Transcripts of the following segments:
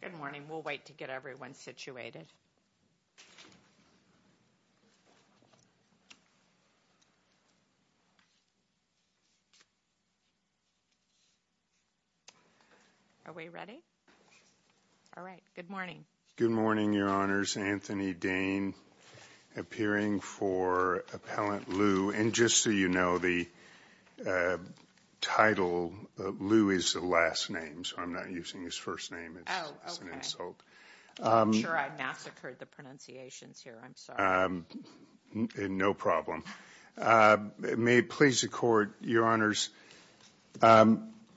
Good morning. We'll wait to get everyone situated. Are we ready? All right. Good morning. Good morning, Your Honors. Anthony Dane, appearing for Appellant Liu. And just so you know, the title Liu is the last name, so I'm not using his first name as an insult. I'm sure I massacred the pronunciations here. I'm sorry. No problem. May it please the Court, Your Honors,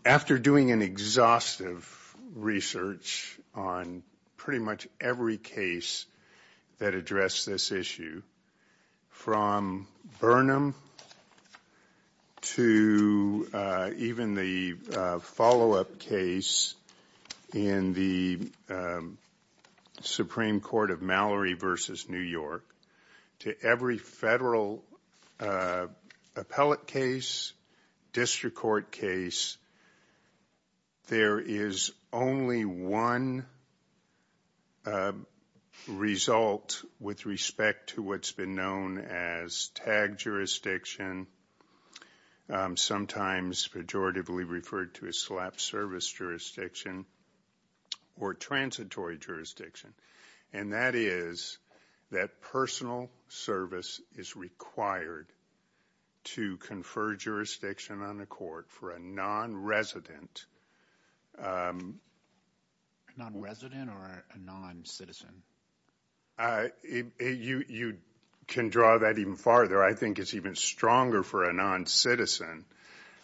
after doing an exhaustive research on pretty much every case that addressed this issue, from Burnham to even the follow-up case in the Supreme Court of Mallory v. New York, to every federal appellate case, district court case, there is only one result with respect to what's been known as tag jurisdiction, sometimes pejoratively referred to as slap service jurisdiction or transitory jurisdiction. And that is that personal service is required to confer jurisdiction on the court for a non-resident. Non-resident or a non-citizen? You can draw that even farther. I think it's even stronger for a non-citizen,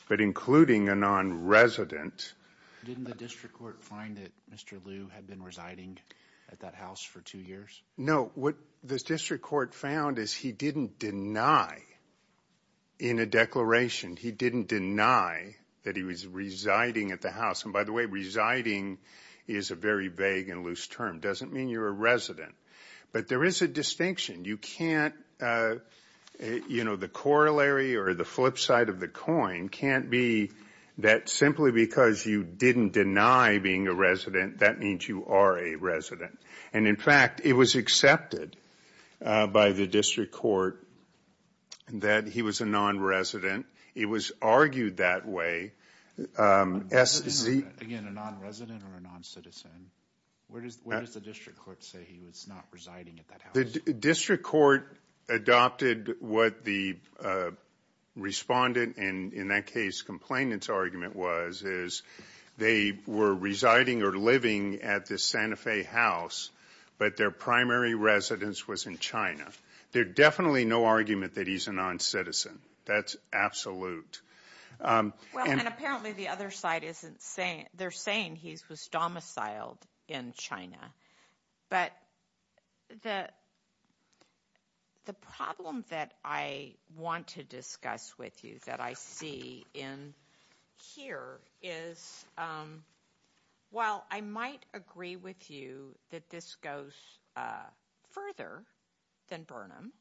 but including a non-resident. Didn't the district court find that Mr. Liu had been residing at that house for two years? No. What the district court found is he didn't deny in a declaration, he didn't deny that he was residing at the house. And by the way, residing is a very vague and loose term. It doesn't mean you're a resident. But there is a distinction. You can't, you know, the corollary or the flip side of the coin can't be that simply because you didn't deny being a resident, that means you are a resident. And in fact, it was accepted by the district court that he was a non-resident. It was argued that way. Again, a non-resident or a non-citizen? Where does the district court say he was not residing at that house? The district court adopted what the respondent, and in that case complainant's argument was, is they were residing or living at the Santa Fe house, but their primary residence was in China. There's definitely no argument that he's a non-citizen. That's absolute. Well, and apparently the other side isn't saying, they're saying he was domiciled in China. But the problem that I want to discuss with you that I see in here is while I might agree with you that this goes further than Burnham,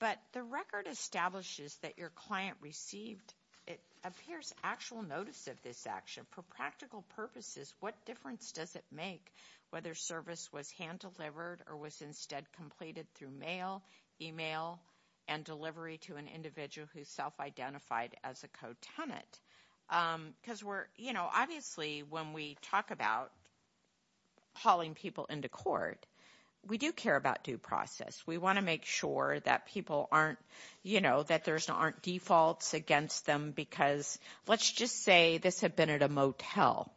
but the record establishes that your client received, it appears, actual notice of this action. But for practical purposes, what difference does it make whether service was hand-delivered or was instead completed through mail, email, and delivery to an individual who self-identified as a co-tenant? Because we're, you know, obviously when we talk about hauling people into court, we do care about due process. We want to make sure that people aren't, you know, that there aren't defaults against them because let's just say this had been at a motel,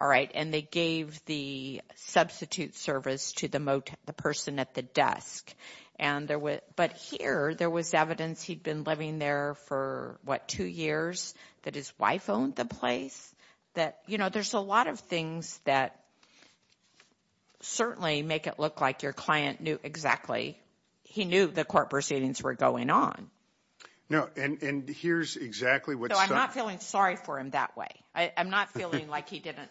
all right, and they gave the substitute service to the person at the desk. And there was, but here there was evidence he'd been living there for, what, two years that his wife owned the place? That, you know, there's a lot of things that certainly make it look like your client knew exactly, he knew the court proceedings were going on. No, and here's exactly what's done. No, I'm not feeling sorry for him that way. I'm not feeling like he didn't,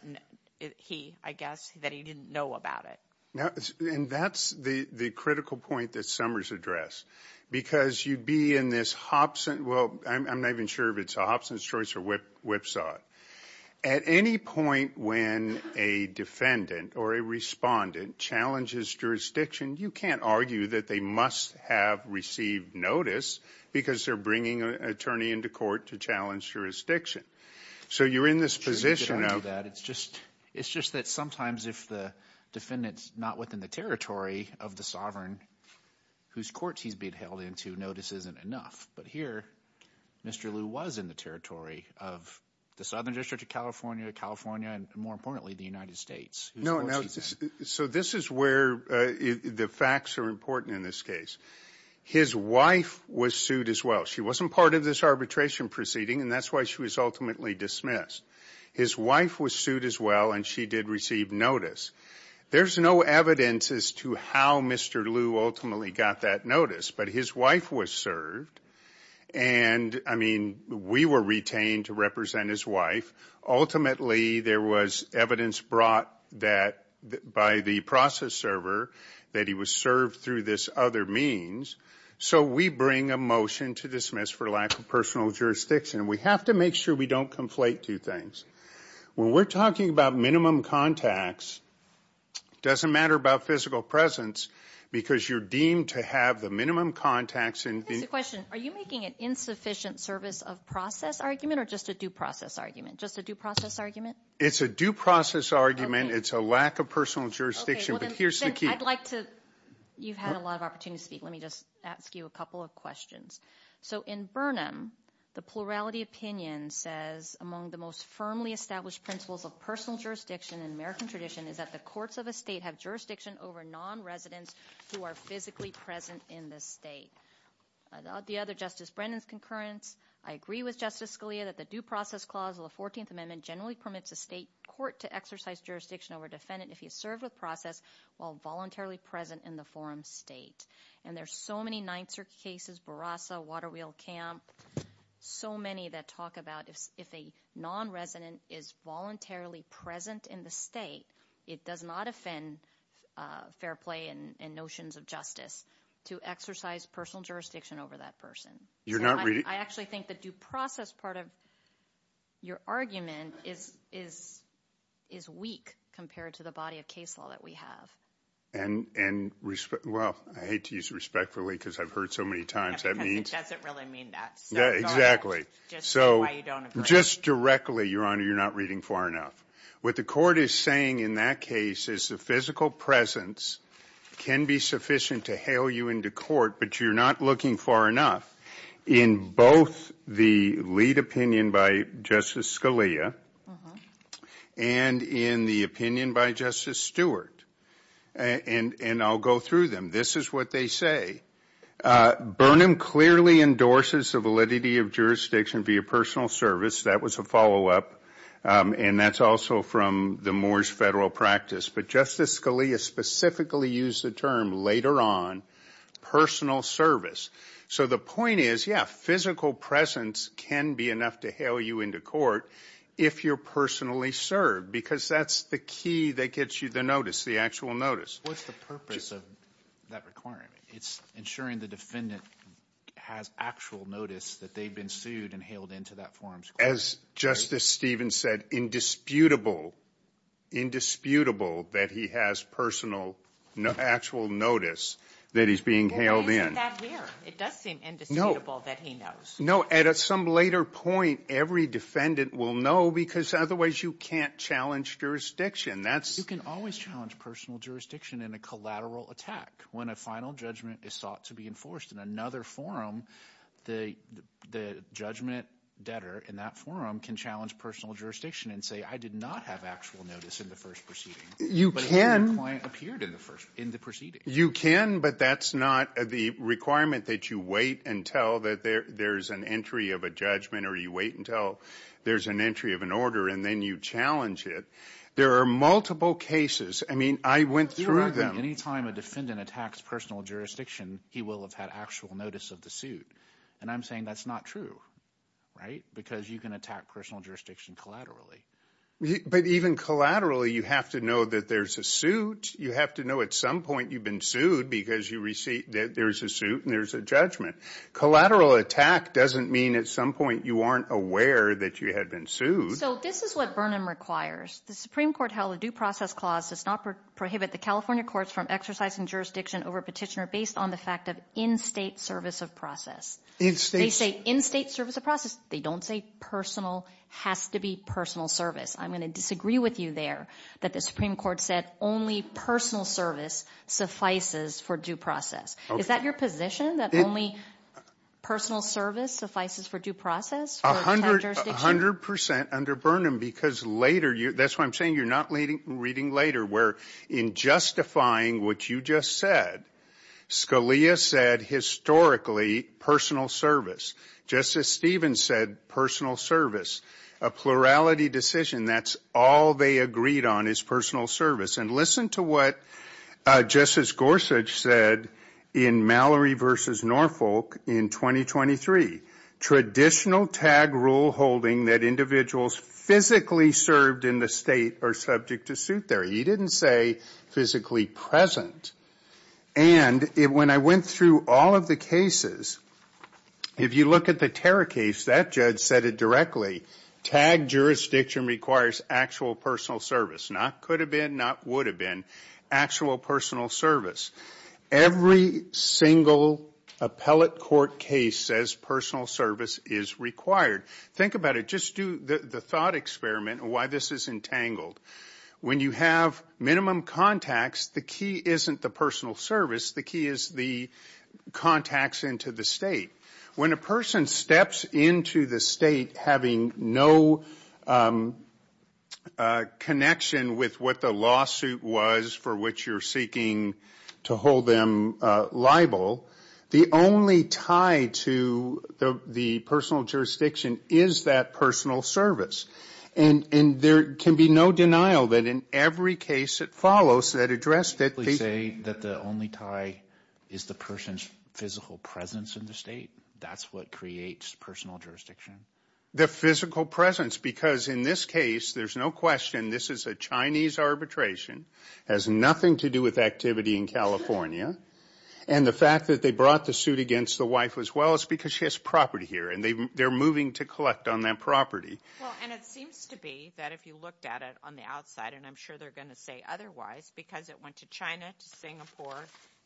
he, I guess, that he didn't know about it. Now, and that's the critical point that Summers addressed. Because you'd be in this Hobson, well, I'm not even sure if it's a Hobson's choice or Whipsaw. At any point when a defendant or a respondent challenges jurisdiction, you can't argue that they must have received notice because they're bringing an attorney into court to challenge jurisdiction. So you're in this position of. It's just that sometimes if the defendant's not within the territory of the sovereign, whose courts he's being held into, notice isn't enough. But here, Mr. Liu was in the territory of the Southern District of California, California, and more importantly, the United States. No, so this is where the facts are important in this case. His wife was sued as well. She wasn't part of this arbitration proceeding, and that's why she was ultimately dismissed. His wife was sued as well, and she did receive notice. There's no evidence as to how Mr. Liu ultimately got that notice, but his wife was served. And, I mean, we were retained to represent his wife. Ultimately, there was evidence brought by the process server that he was served through this other means. So we bring a motion to dismiss for lack of personal jurisdiction. We have to make sure we don't conflate two things. When we're talking about minimum contacts, it doesn't matter about physical presence because you're deemed to have the minimum contacts. That's the question. Are you making an insufficient service of process argument or just a due process argument? Just a due process argument? It's a due process argument. It's a lack of personal jurisdiction, but here's the key. I'd like to – you've had a lot of opportunity to speak. Let me just ask you a couple of questions. So in Burnham, the plurality opinion says, among the most firmly established principles of personal jurisdiction in American tradition is that the courts of a state have jurisdiction over non-residents who are physically present in the state. The other Justice Brennan's concurrence, I agree with Justice Scalia that the due process clause of the 14th Amendment generally permits a state court to exercise jurisdiction over a defendant if he is served with process while voluntarily present in the forum state. And there's so many Ninth Circuit cases, Barasa, Waterwheel Camp, so many that talk about if a non-resident is voluntarily present in the state, it does not offend fair play and notions of justice to exercise personal jurisdiction over that person. You're not really – I actually think the due process part of your argument is weak compared to the body of case law that we have. And – well, I hate to use respectfully because I've heard so many times. Because it doesn't really mean that. Exactly. So just directly, Your Honor, you're not reading far enough. What the court is saying in that case is the physical presence can be sufficient to hail you into court, but you're not looking far enough in both the lead opinion by Justice Scalia and in the opinion by Justice Stewart. And I'll go through them. This is what they say. Burnham clearly endorses the validity of jurisdiction via personal service. That was a follow-up. And that's also from the Moore's federal practice. But Justice Scalia specifically used the term later on, personal service. So the point is, yeah, physical presence can be enough to hail you into court if you're personally served because that's the key that gets you the notice, the actual notice. What's the purpose of that requirement? It's ensuring the defendant has actual notice that they've been sued and hailed into that forum's court. As Justice Stevens said, indisputable, indisputable that he has personal actual notice that he's being hailed in. Well, isn't that weird? It does seem indisputable that he knows. No, at some later point, every defendant will know because otherwise you can't challenge jurisdiction. You can always challenge personal jurisdiction in a collateral attack. When a final judgment is sought to be enforced in another forum, the judgment debtor in that forum can challenge personal jurisdiction and say, I did not have actual notice in the first proceeding. You can. But the client appeared in the proceeding. You can, but that's not the requirement that you wait until there's an entry of a judgment or you wait until there's an entry of an order and then you challenge it. There are multiple cases. I mean, I went through them. You're right that any time a defendant attacks personal jurisdiction, he will have had actual notice of the suit. And I'm saying that's not true, right, because you can attack personal jurisdiction collaterally. But even collaterally, you have to know that there's a suit. You have to know at some point you've been sued because there's a suit and there's a judgment. Collateral attack doesn't mean at some point you aren't aware that you had been sued. So this is what Burnham requires. The Supreme Court held a due process clause does not prohibit the California courts from exercising jurisdiction over a petitioner based on the fact of in-State service of process. They say in-State service of process. They don't say personal has to be personal service. I'm going to disagree with you there that the Supreme Court said only personal service suffices for due process. Is that your position, that only personal service suffices for due process? A hundred percent under Burnham because later, that's why I'm saying you're not reading later, where in justifying what you just said, Scalia said historically personal service. Justice Stevens said personal service. A plurality decision, that's all they agreed on is personal service. And listen to what Justice Gorsuch said in Mallory v. Norfolk in 2023. Traditional tag rule holding that individuals physically served in the State are subject to suit theory. He didn't say physically present. And when I went through all of the cases, if you look at the terror case, that judge said it directly. Tag jurisdiction requires actual personal service. Not could have been, not would have been. Actual personal service. Every single appellate court case says personal service is required. Think about it. Just do the thought experiment on why this is entangled. When you have minimum contacts, the key isn't the personal service. The key is the contacts into the State. When a person steps into the State having no connection with what the lawsuit was for which you're seeking to hold them liable, the only tie to the personal jurisdiction is that personal service. And there can be no denial that in every case that follows that addressed it. You say that the only tie is the person's physical presence in the State. That's what creates personal jurisdiction. The physical presence because in this case there's no question this is a Chinese arbitration. It has nothing to do with activity in California. And the fact that they brought the suit against the wife as well is because she has property here. And they're moving to collect on that property. Well, and it seems to be that if you looked at it on the outside, and I'm sure they're going to say otherwise, because it went to China, to Singapore,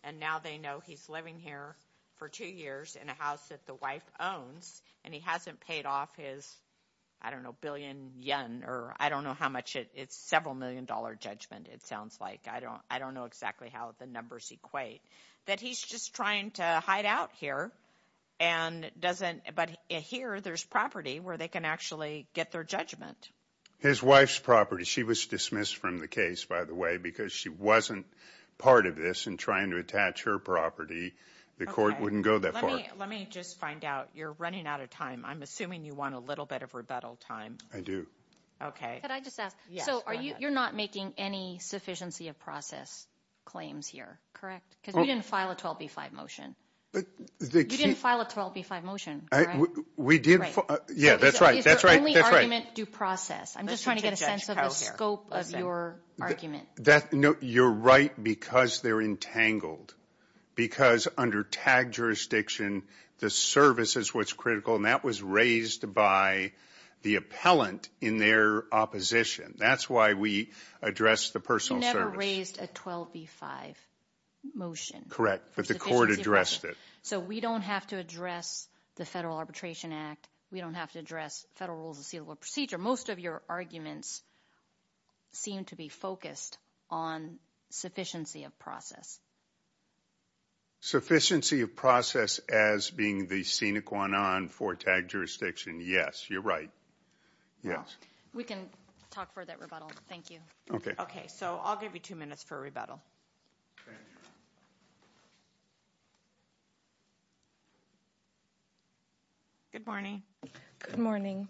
and now they know he's living here for two years in a house that the wife owns, and he hasn't paid off his, I don't know, billion yen or I don't know how much it's several million dollar judgment it sounds like. I don't know exactly how the numbers equate. That he's just trying to hide out here and doesn't, but here there's property where they can actually get their judgment. His wife's property. She was dismissed from the case, by the way, because she wasn't part of this in trying to attach her property. The court wouldn't go that far. Let me just find out. You're running out of time. I'm assuming you want a little bit of rebuttal time. I do. Okay. Could I just ask, so you're not making any sufficiency of process claims here, correct? Because we didn't file a 12B5 motion. You didn't file a 12B5 motion, correct? We did. Yeah, that's right. It's the only argument due process. I'm just trying to get a sense of the scope of your argument. No, you're right, because they're entangled. Because under TAG jurisdiction, the service is what's critical, and that was raised by the appellant in their opposition. That's why we addressed the personal service. You raised a 12B5 motion. Correct, but the court addressed it. So we don't have to address the Federal Arbitration Act. We don't have to address Federal Rules of Sealable Procedure. Most of your arguments seem to be focused on sufficiency of process. Sufficiency of process as being the sine qua non for TAG jurisdiction, yes, you're right. Yes. We can talk further at rebuttal. Thank you. Okay. Okay, so I'll give you two minutes for rebuttal. Good morning. Good morning.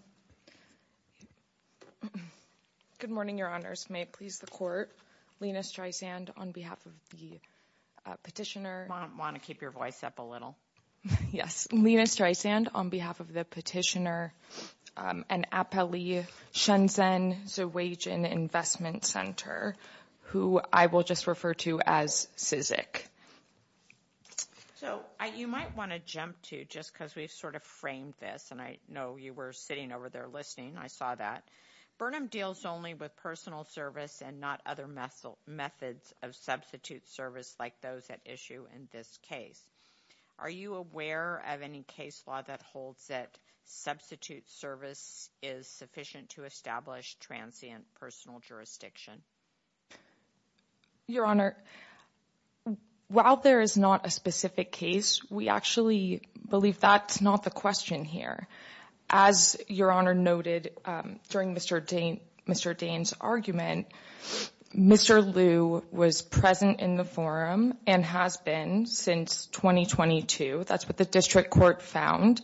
Good morning, Your Honors. May it please the court, Lina Streisand on behalf of the petitioner. I want to keep your voice up a little. Yes. Lina Streisand on behalf of the petitioner and Appellee Shenzhen Zerweijen Investment Center, who I will just refer to as CISIC. So you might want to jump to, just because we've sort of framed this, and I know you were sitting over there listening. I saw that. Burnham deals only with personal service and not other methods of substitute service like those at issue in this case. Are you aware of any case law that holds that substitute service is sufficient to establish transient personal jurisdiction? Your Honor, while there is not a specific case, we actually believe that's not the question here. As Your Honor noted during Mr. Dane's argument, Mr. Liu was present in the forum and has been since 2022. That's what the district court found.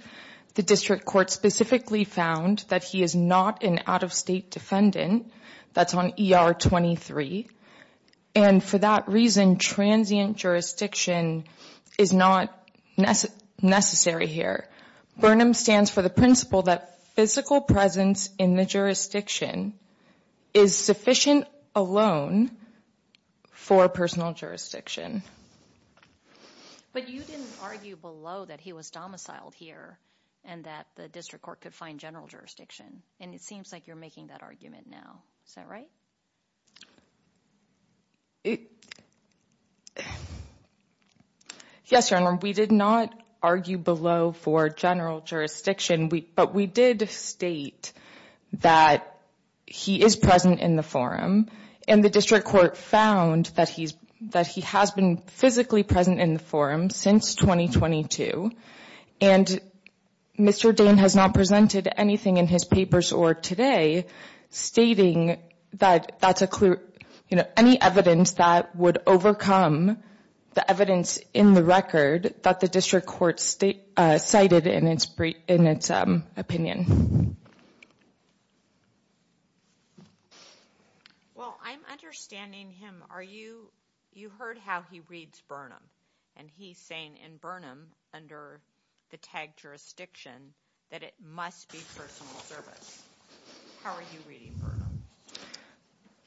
The district court specifically found that he is not an out-of-state defendant. That's on ER 23. And for that reason, transient jurisdiction is not necessary here. Burnham stands for the principle that physical presence in the jurisdiction is sufficient alone for personal jurisdiction. But you didn't argue below that he was domiciled here and that the district court could find general jurisdiction. And it seems like you're making that argument now. Is that right? Yes, Your Honor. We did not argue below for general jurisdiction. But we did state that he is present in the forum. And the district court found that he has been physically present in the forum since 2022. And Mr. Dane has not presented anything in his papers or today stating that that's a clue, any evidence that would overcome the evidence in the record that the district court cited in its opinion. Well, I'm understanding him. You heard how he reads Burnham. And he's saying in Burnham under the tag jurisdiction that it must be personal service. How are you reading Burnham?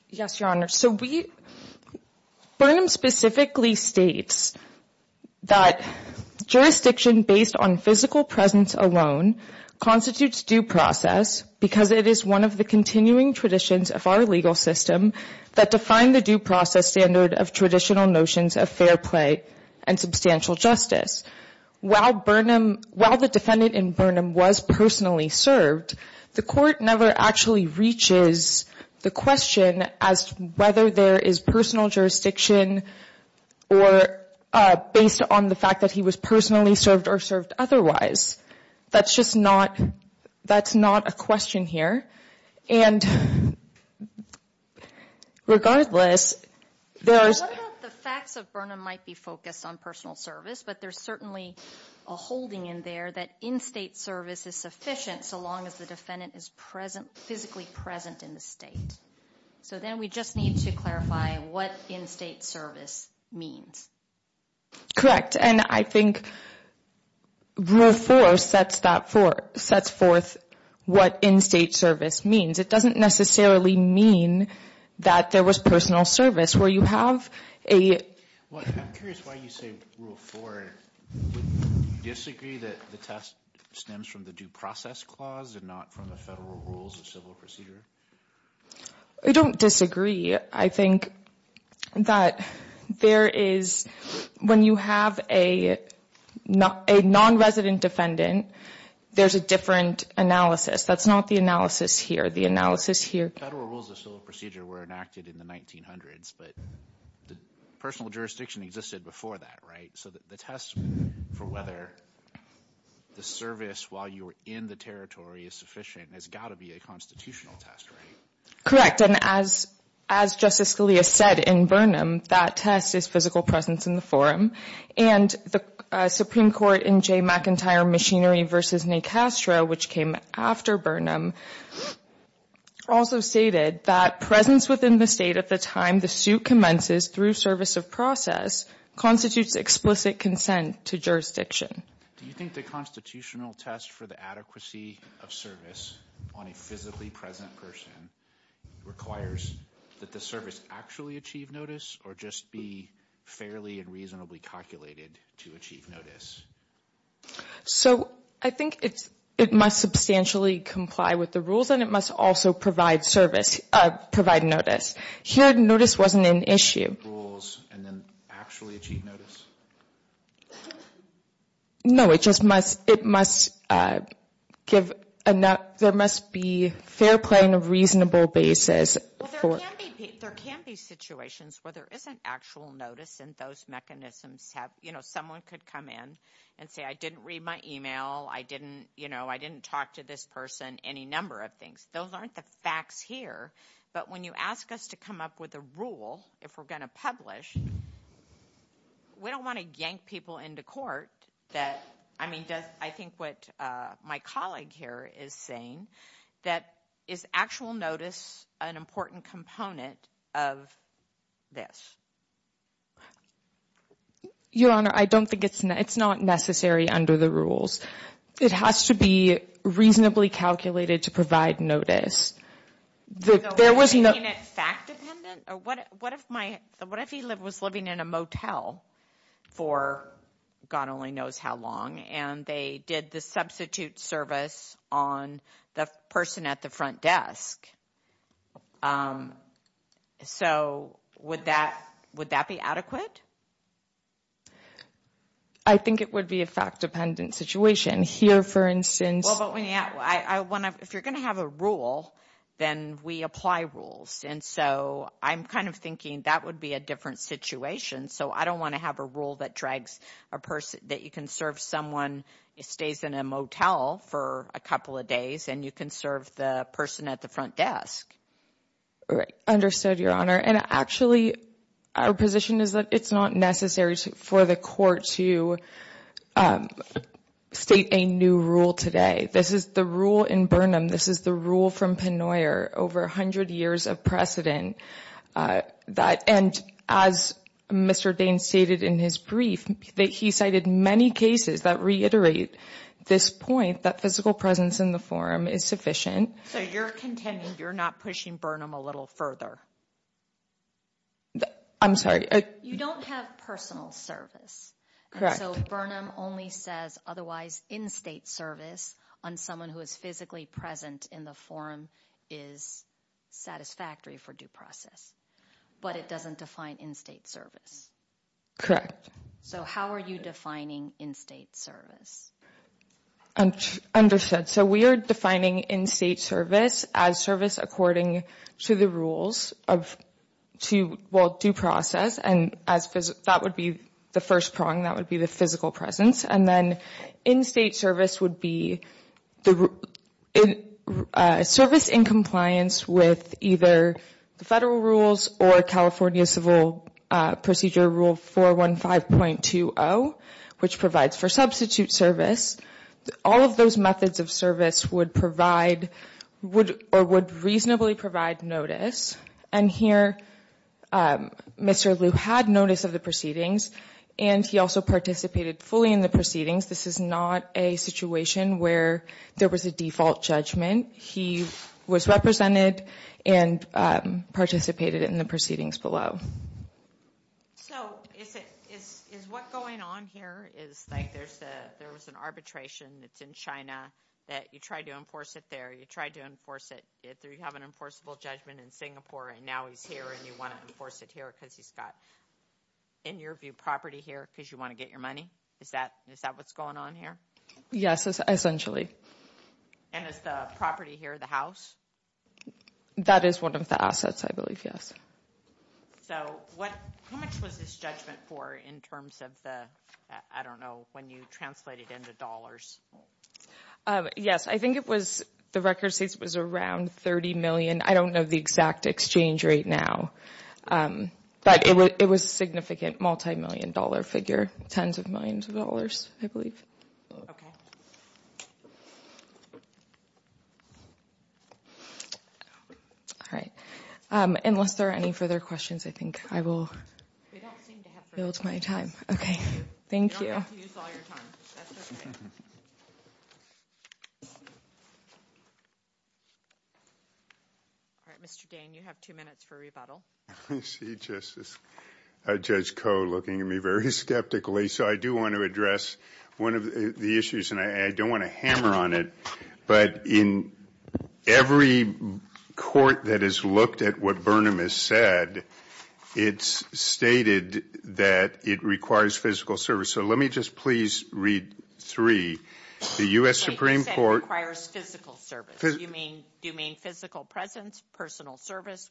Yes, Your Honor. So Burnham specifically states that jurisdiction based on physical presence alone constitutes due process because it is one of the continuing traditions of our legal system that define the due process standard of traditional notions of fair play and substantial justice. While Burnham, while the defendant in Burnham was personally served, the court never actually reaches the question as whether there is personal jurisdiction or based on the fact that he was personally served or served otherwise. That's just not, that's not a question here. And regardless, there's. The facts of Burnham might be focused on personal service, but there's certainly a holding in there that in-state service is sufficient so long as the defendant is physically present in the state. So then we just need to clarify what in-state service means. Correct. And I think Rule 4 sets that forth, sets forth what in-state service means. It doesn't necessarily mean that there was personal service where you have a. Well, I'm curious why you say Rule 4. Do you disagree that the test stems from the due process clause and not from the federal rules of civil procedure? I don't disagree. I think that there is, when you have a non-resident defendant, there's a different analysis. That's not the analysis here. The analysis here. Federal rules of civil procedure were enacted in the 1900s, but the personal jurisdiction existed before that, right? So the test for whether the service while you were in the territory is sufficient has got to be a constitutional test, right? Correct. And as Justice Scalia said in Burnham, that test is physical presence in the forum. And the Supreme Court in Jay McIntyre Machinery v. Necastro, which came after Burnham, also stated that presence within the state at the time the suit commences through service of process constitutes explicit consent to jurisdiction. Do you think the constitutional test for the adequacy of service on a physically present person requires that the service actually achieve notice or just be fairly and reasonably calculated to achieve notice? So I think it must substantially comply with the rules and it must also provide service, provide notice. Here notice wasn't an issue. Rules and then actually achieve notice? No, it just must give enough. There must be fair, plain, reasonable basis. Well, there can be situations where there isn't actual notice and those mechanisms have, you know, someone could come in and say, I didn't read my email. I didn't, you know, I didn't talk to this person, any number of things. Those aren't the facts here. But when you ask us to come up with a rule, if we're going to publish, we don't want to yank people into court that, I mean, I think what my colleague here is saying, that is actual notice an important component of this? Your Honor, I don't think it's necessary under the rules. It has to be reasonably calculated to provide notice. There was no. So making it fact-dependent? What if he was living in a motel for God only knows how long and they did the substitute service on the person at the front desk? So would that be adequate? I think it would be a fact-dependent situation. Here, for instance. Well, but when you ask, if you're going to have a rule, then we apply rules. And so I'm kind of thinking that would be a different situation. So I don't want to have a rule that drags a person, that you can serve someone who stays in a motel for a couple of days and you can serve the person at the front desk. Right. Understood, Your Honor. And actually, our position is that it's not necessary for the court to state a new rule today. This is the rule in Burnham. This is the rule from Pennoyer over 100 years of precedent. And as Mr. Daines stated in his brief, he cited many cases that reiterate this point, that physical presence in the forum is sufficient. So you're contending you're not pushing Burnham a little further? I'm sorry. You don't have personal service. So Burnham only says otherwise in-state service on someone who is physically present in the forum is satisfactory for due process. But it doesn't define in-state service. Correct. So how are you defining in-state service? Understood. So we are defining in-state service as service according to the rules of due process, and that would be the first prong. That would be the physical presence. And then in-state service would be service in compliance with either the federal rules or California Civil Procedure Rule 415.20, which provides for substitute service. All of those methods of service would provide or would reasonably provide notice. And here Mr. Liu had notice of the proceedings, and he also participated fully in the proceedings. This is not a situation where there was a default judgment. He was represented and participated in the proceedings below. So is what going on here is like there was an arbitration that's in China that you tried to enforce it there, you tried to enforce it. You have an enforceable judgment in Singapore, and now he's here and you want to enforce it here because he's got, in your view, property here because you want to get your money? Is that what's going on here? Yes, essentially. And is the property here the house? That is one of the assets, I believe, yes. So how much was this judgment for in terms of the, I don't know, when you translated into dollars? Yes, I think the record states it was around $30 million. I don't know the exact exchange rate now, but it was a significant multimillion dollar figure, tens of millions of dollars, I believe. Okay. All right. Unless there are any further questions, I think I will build my time. Okay. Thank you. All right, Mr. Dane, you have two minutes for rebuttal. I see Justice Judge Koh looking at me very skeptically. So I do want to address one of the issues, and I don't want to hammer on it, but in every court that has looked at what Burnham has said, it's stated that it requires physical service. So let me just please read three. The U.S. Supreme Court. It requires physical service. Do you mean physical presence, personal service?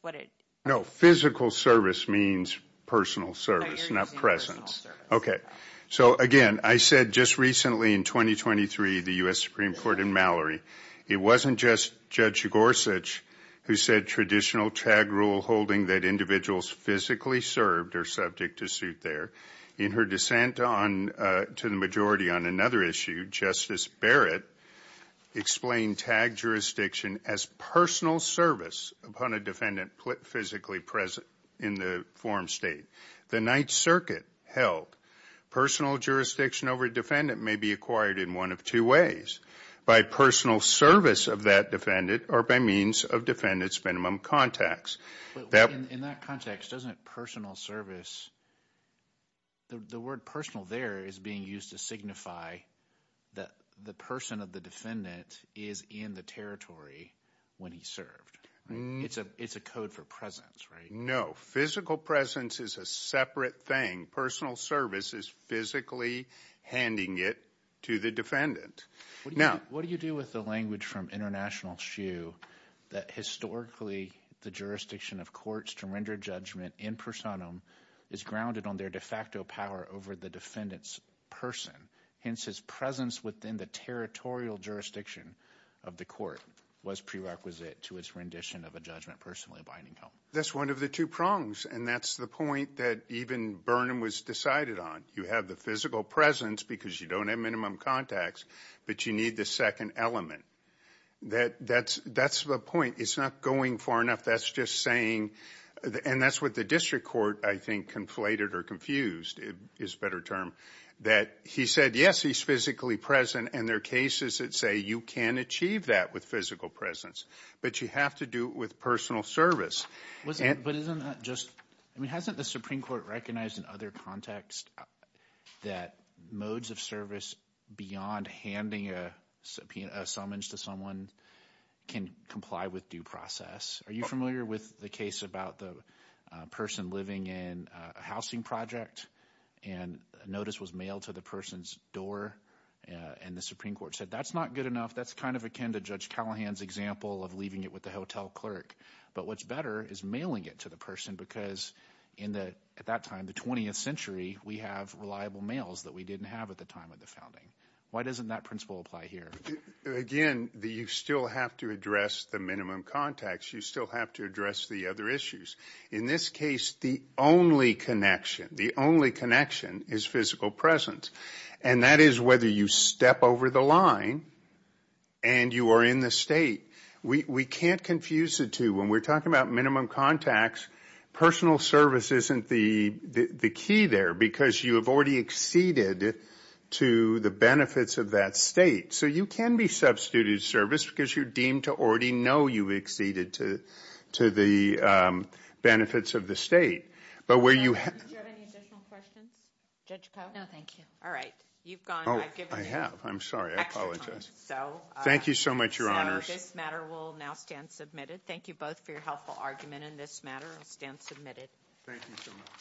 No, physical service means personal service, not presence. Okay. So, again, I said just recently in 2023, the U.S. Supreme Court in Mallory, it wasn't just Judge Gorsuch who said traditional tag rule holding that individuals physically served are subject to suit there. In her dissent to the majority on another issue, Justice Barrett explained tag jurisdiction as personal service upon a defendant physically present in the forum state. The Ninth Circuit held personal jurisdiction over a defendant may be acquired in one of two ways, by personal service of that defendant or by means of defendant's minimum contacts. In that context, doesn't personal service, the word personal there is being used to signify that the person of the defendant is in the territory when he served. It's a code for presence, right? No. Physical presence is a separate thing. Personal service is physically handing it to the defendant. Now, what do you do with the language from International Shoe that historically the jurisdiction of courts to render judgment in personam is grounded on their de facto power over the defendant's person. Hence, his presence within the territorial jurisdiction of the court was prerequisite to its rendition of a judgment personally binding him. That's one of the two prongs, and that's the point that even Burnham was decided on. You have the physical presence because you don't have minimum contacts, but you need the second element. That's the point. It's not going far enough. That's just saying, and that's what the district court, I think, conflated or confused is a better term, that he said, yes, he's physically present, and there are cases that say you can achieve that with physical presence, but you have to do it with personal service. But isn't that just, I mean, hasn't the Supreme Court recognized in other contexts that modes of service beyond handing a summons to someone can comply with due process? Are you familiar with the case about the person living in a housing project and a notice was mailed to the person's door, and the Supreme Court said, that's not good enough. That's kind of akin to Judge Callahan's example of leaving it with the hotel clerk. But what's better is mailing it to the person because at that time, the 20th century, we have reliable mails that we didn't have at the time of the founding. Why doesn't that principle apply here? Again, you still have to address the minimum contacts. You still have to address the other issues. In this case, the only connection, the only connection is physical presence, and that is whether you step over the line and you are in the state. We can't confuse the two. When we're talking about minimum contacts, personal service isn't the key there because you have already acceded to the benefits of that state. So you can be substituted service because you're deemed to already know you acceded to the benefits of the state. Do you have any additional questions, Judge Koh? No, thank you. All right. Oh, I have. I'm sorry. I apologize. Thank you so much, Your Honors. So this matter will now stand submitted. Thank you both for your helpful argument, and this matter will stand submitted. Thank you so much.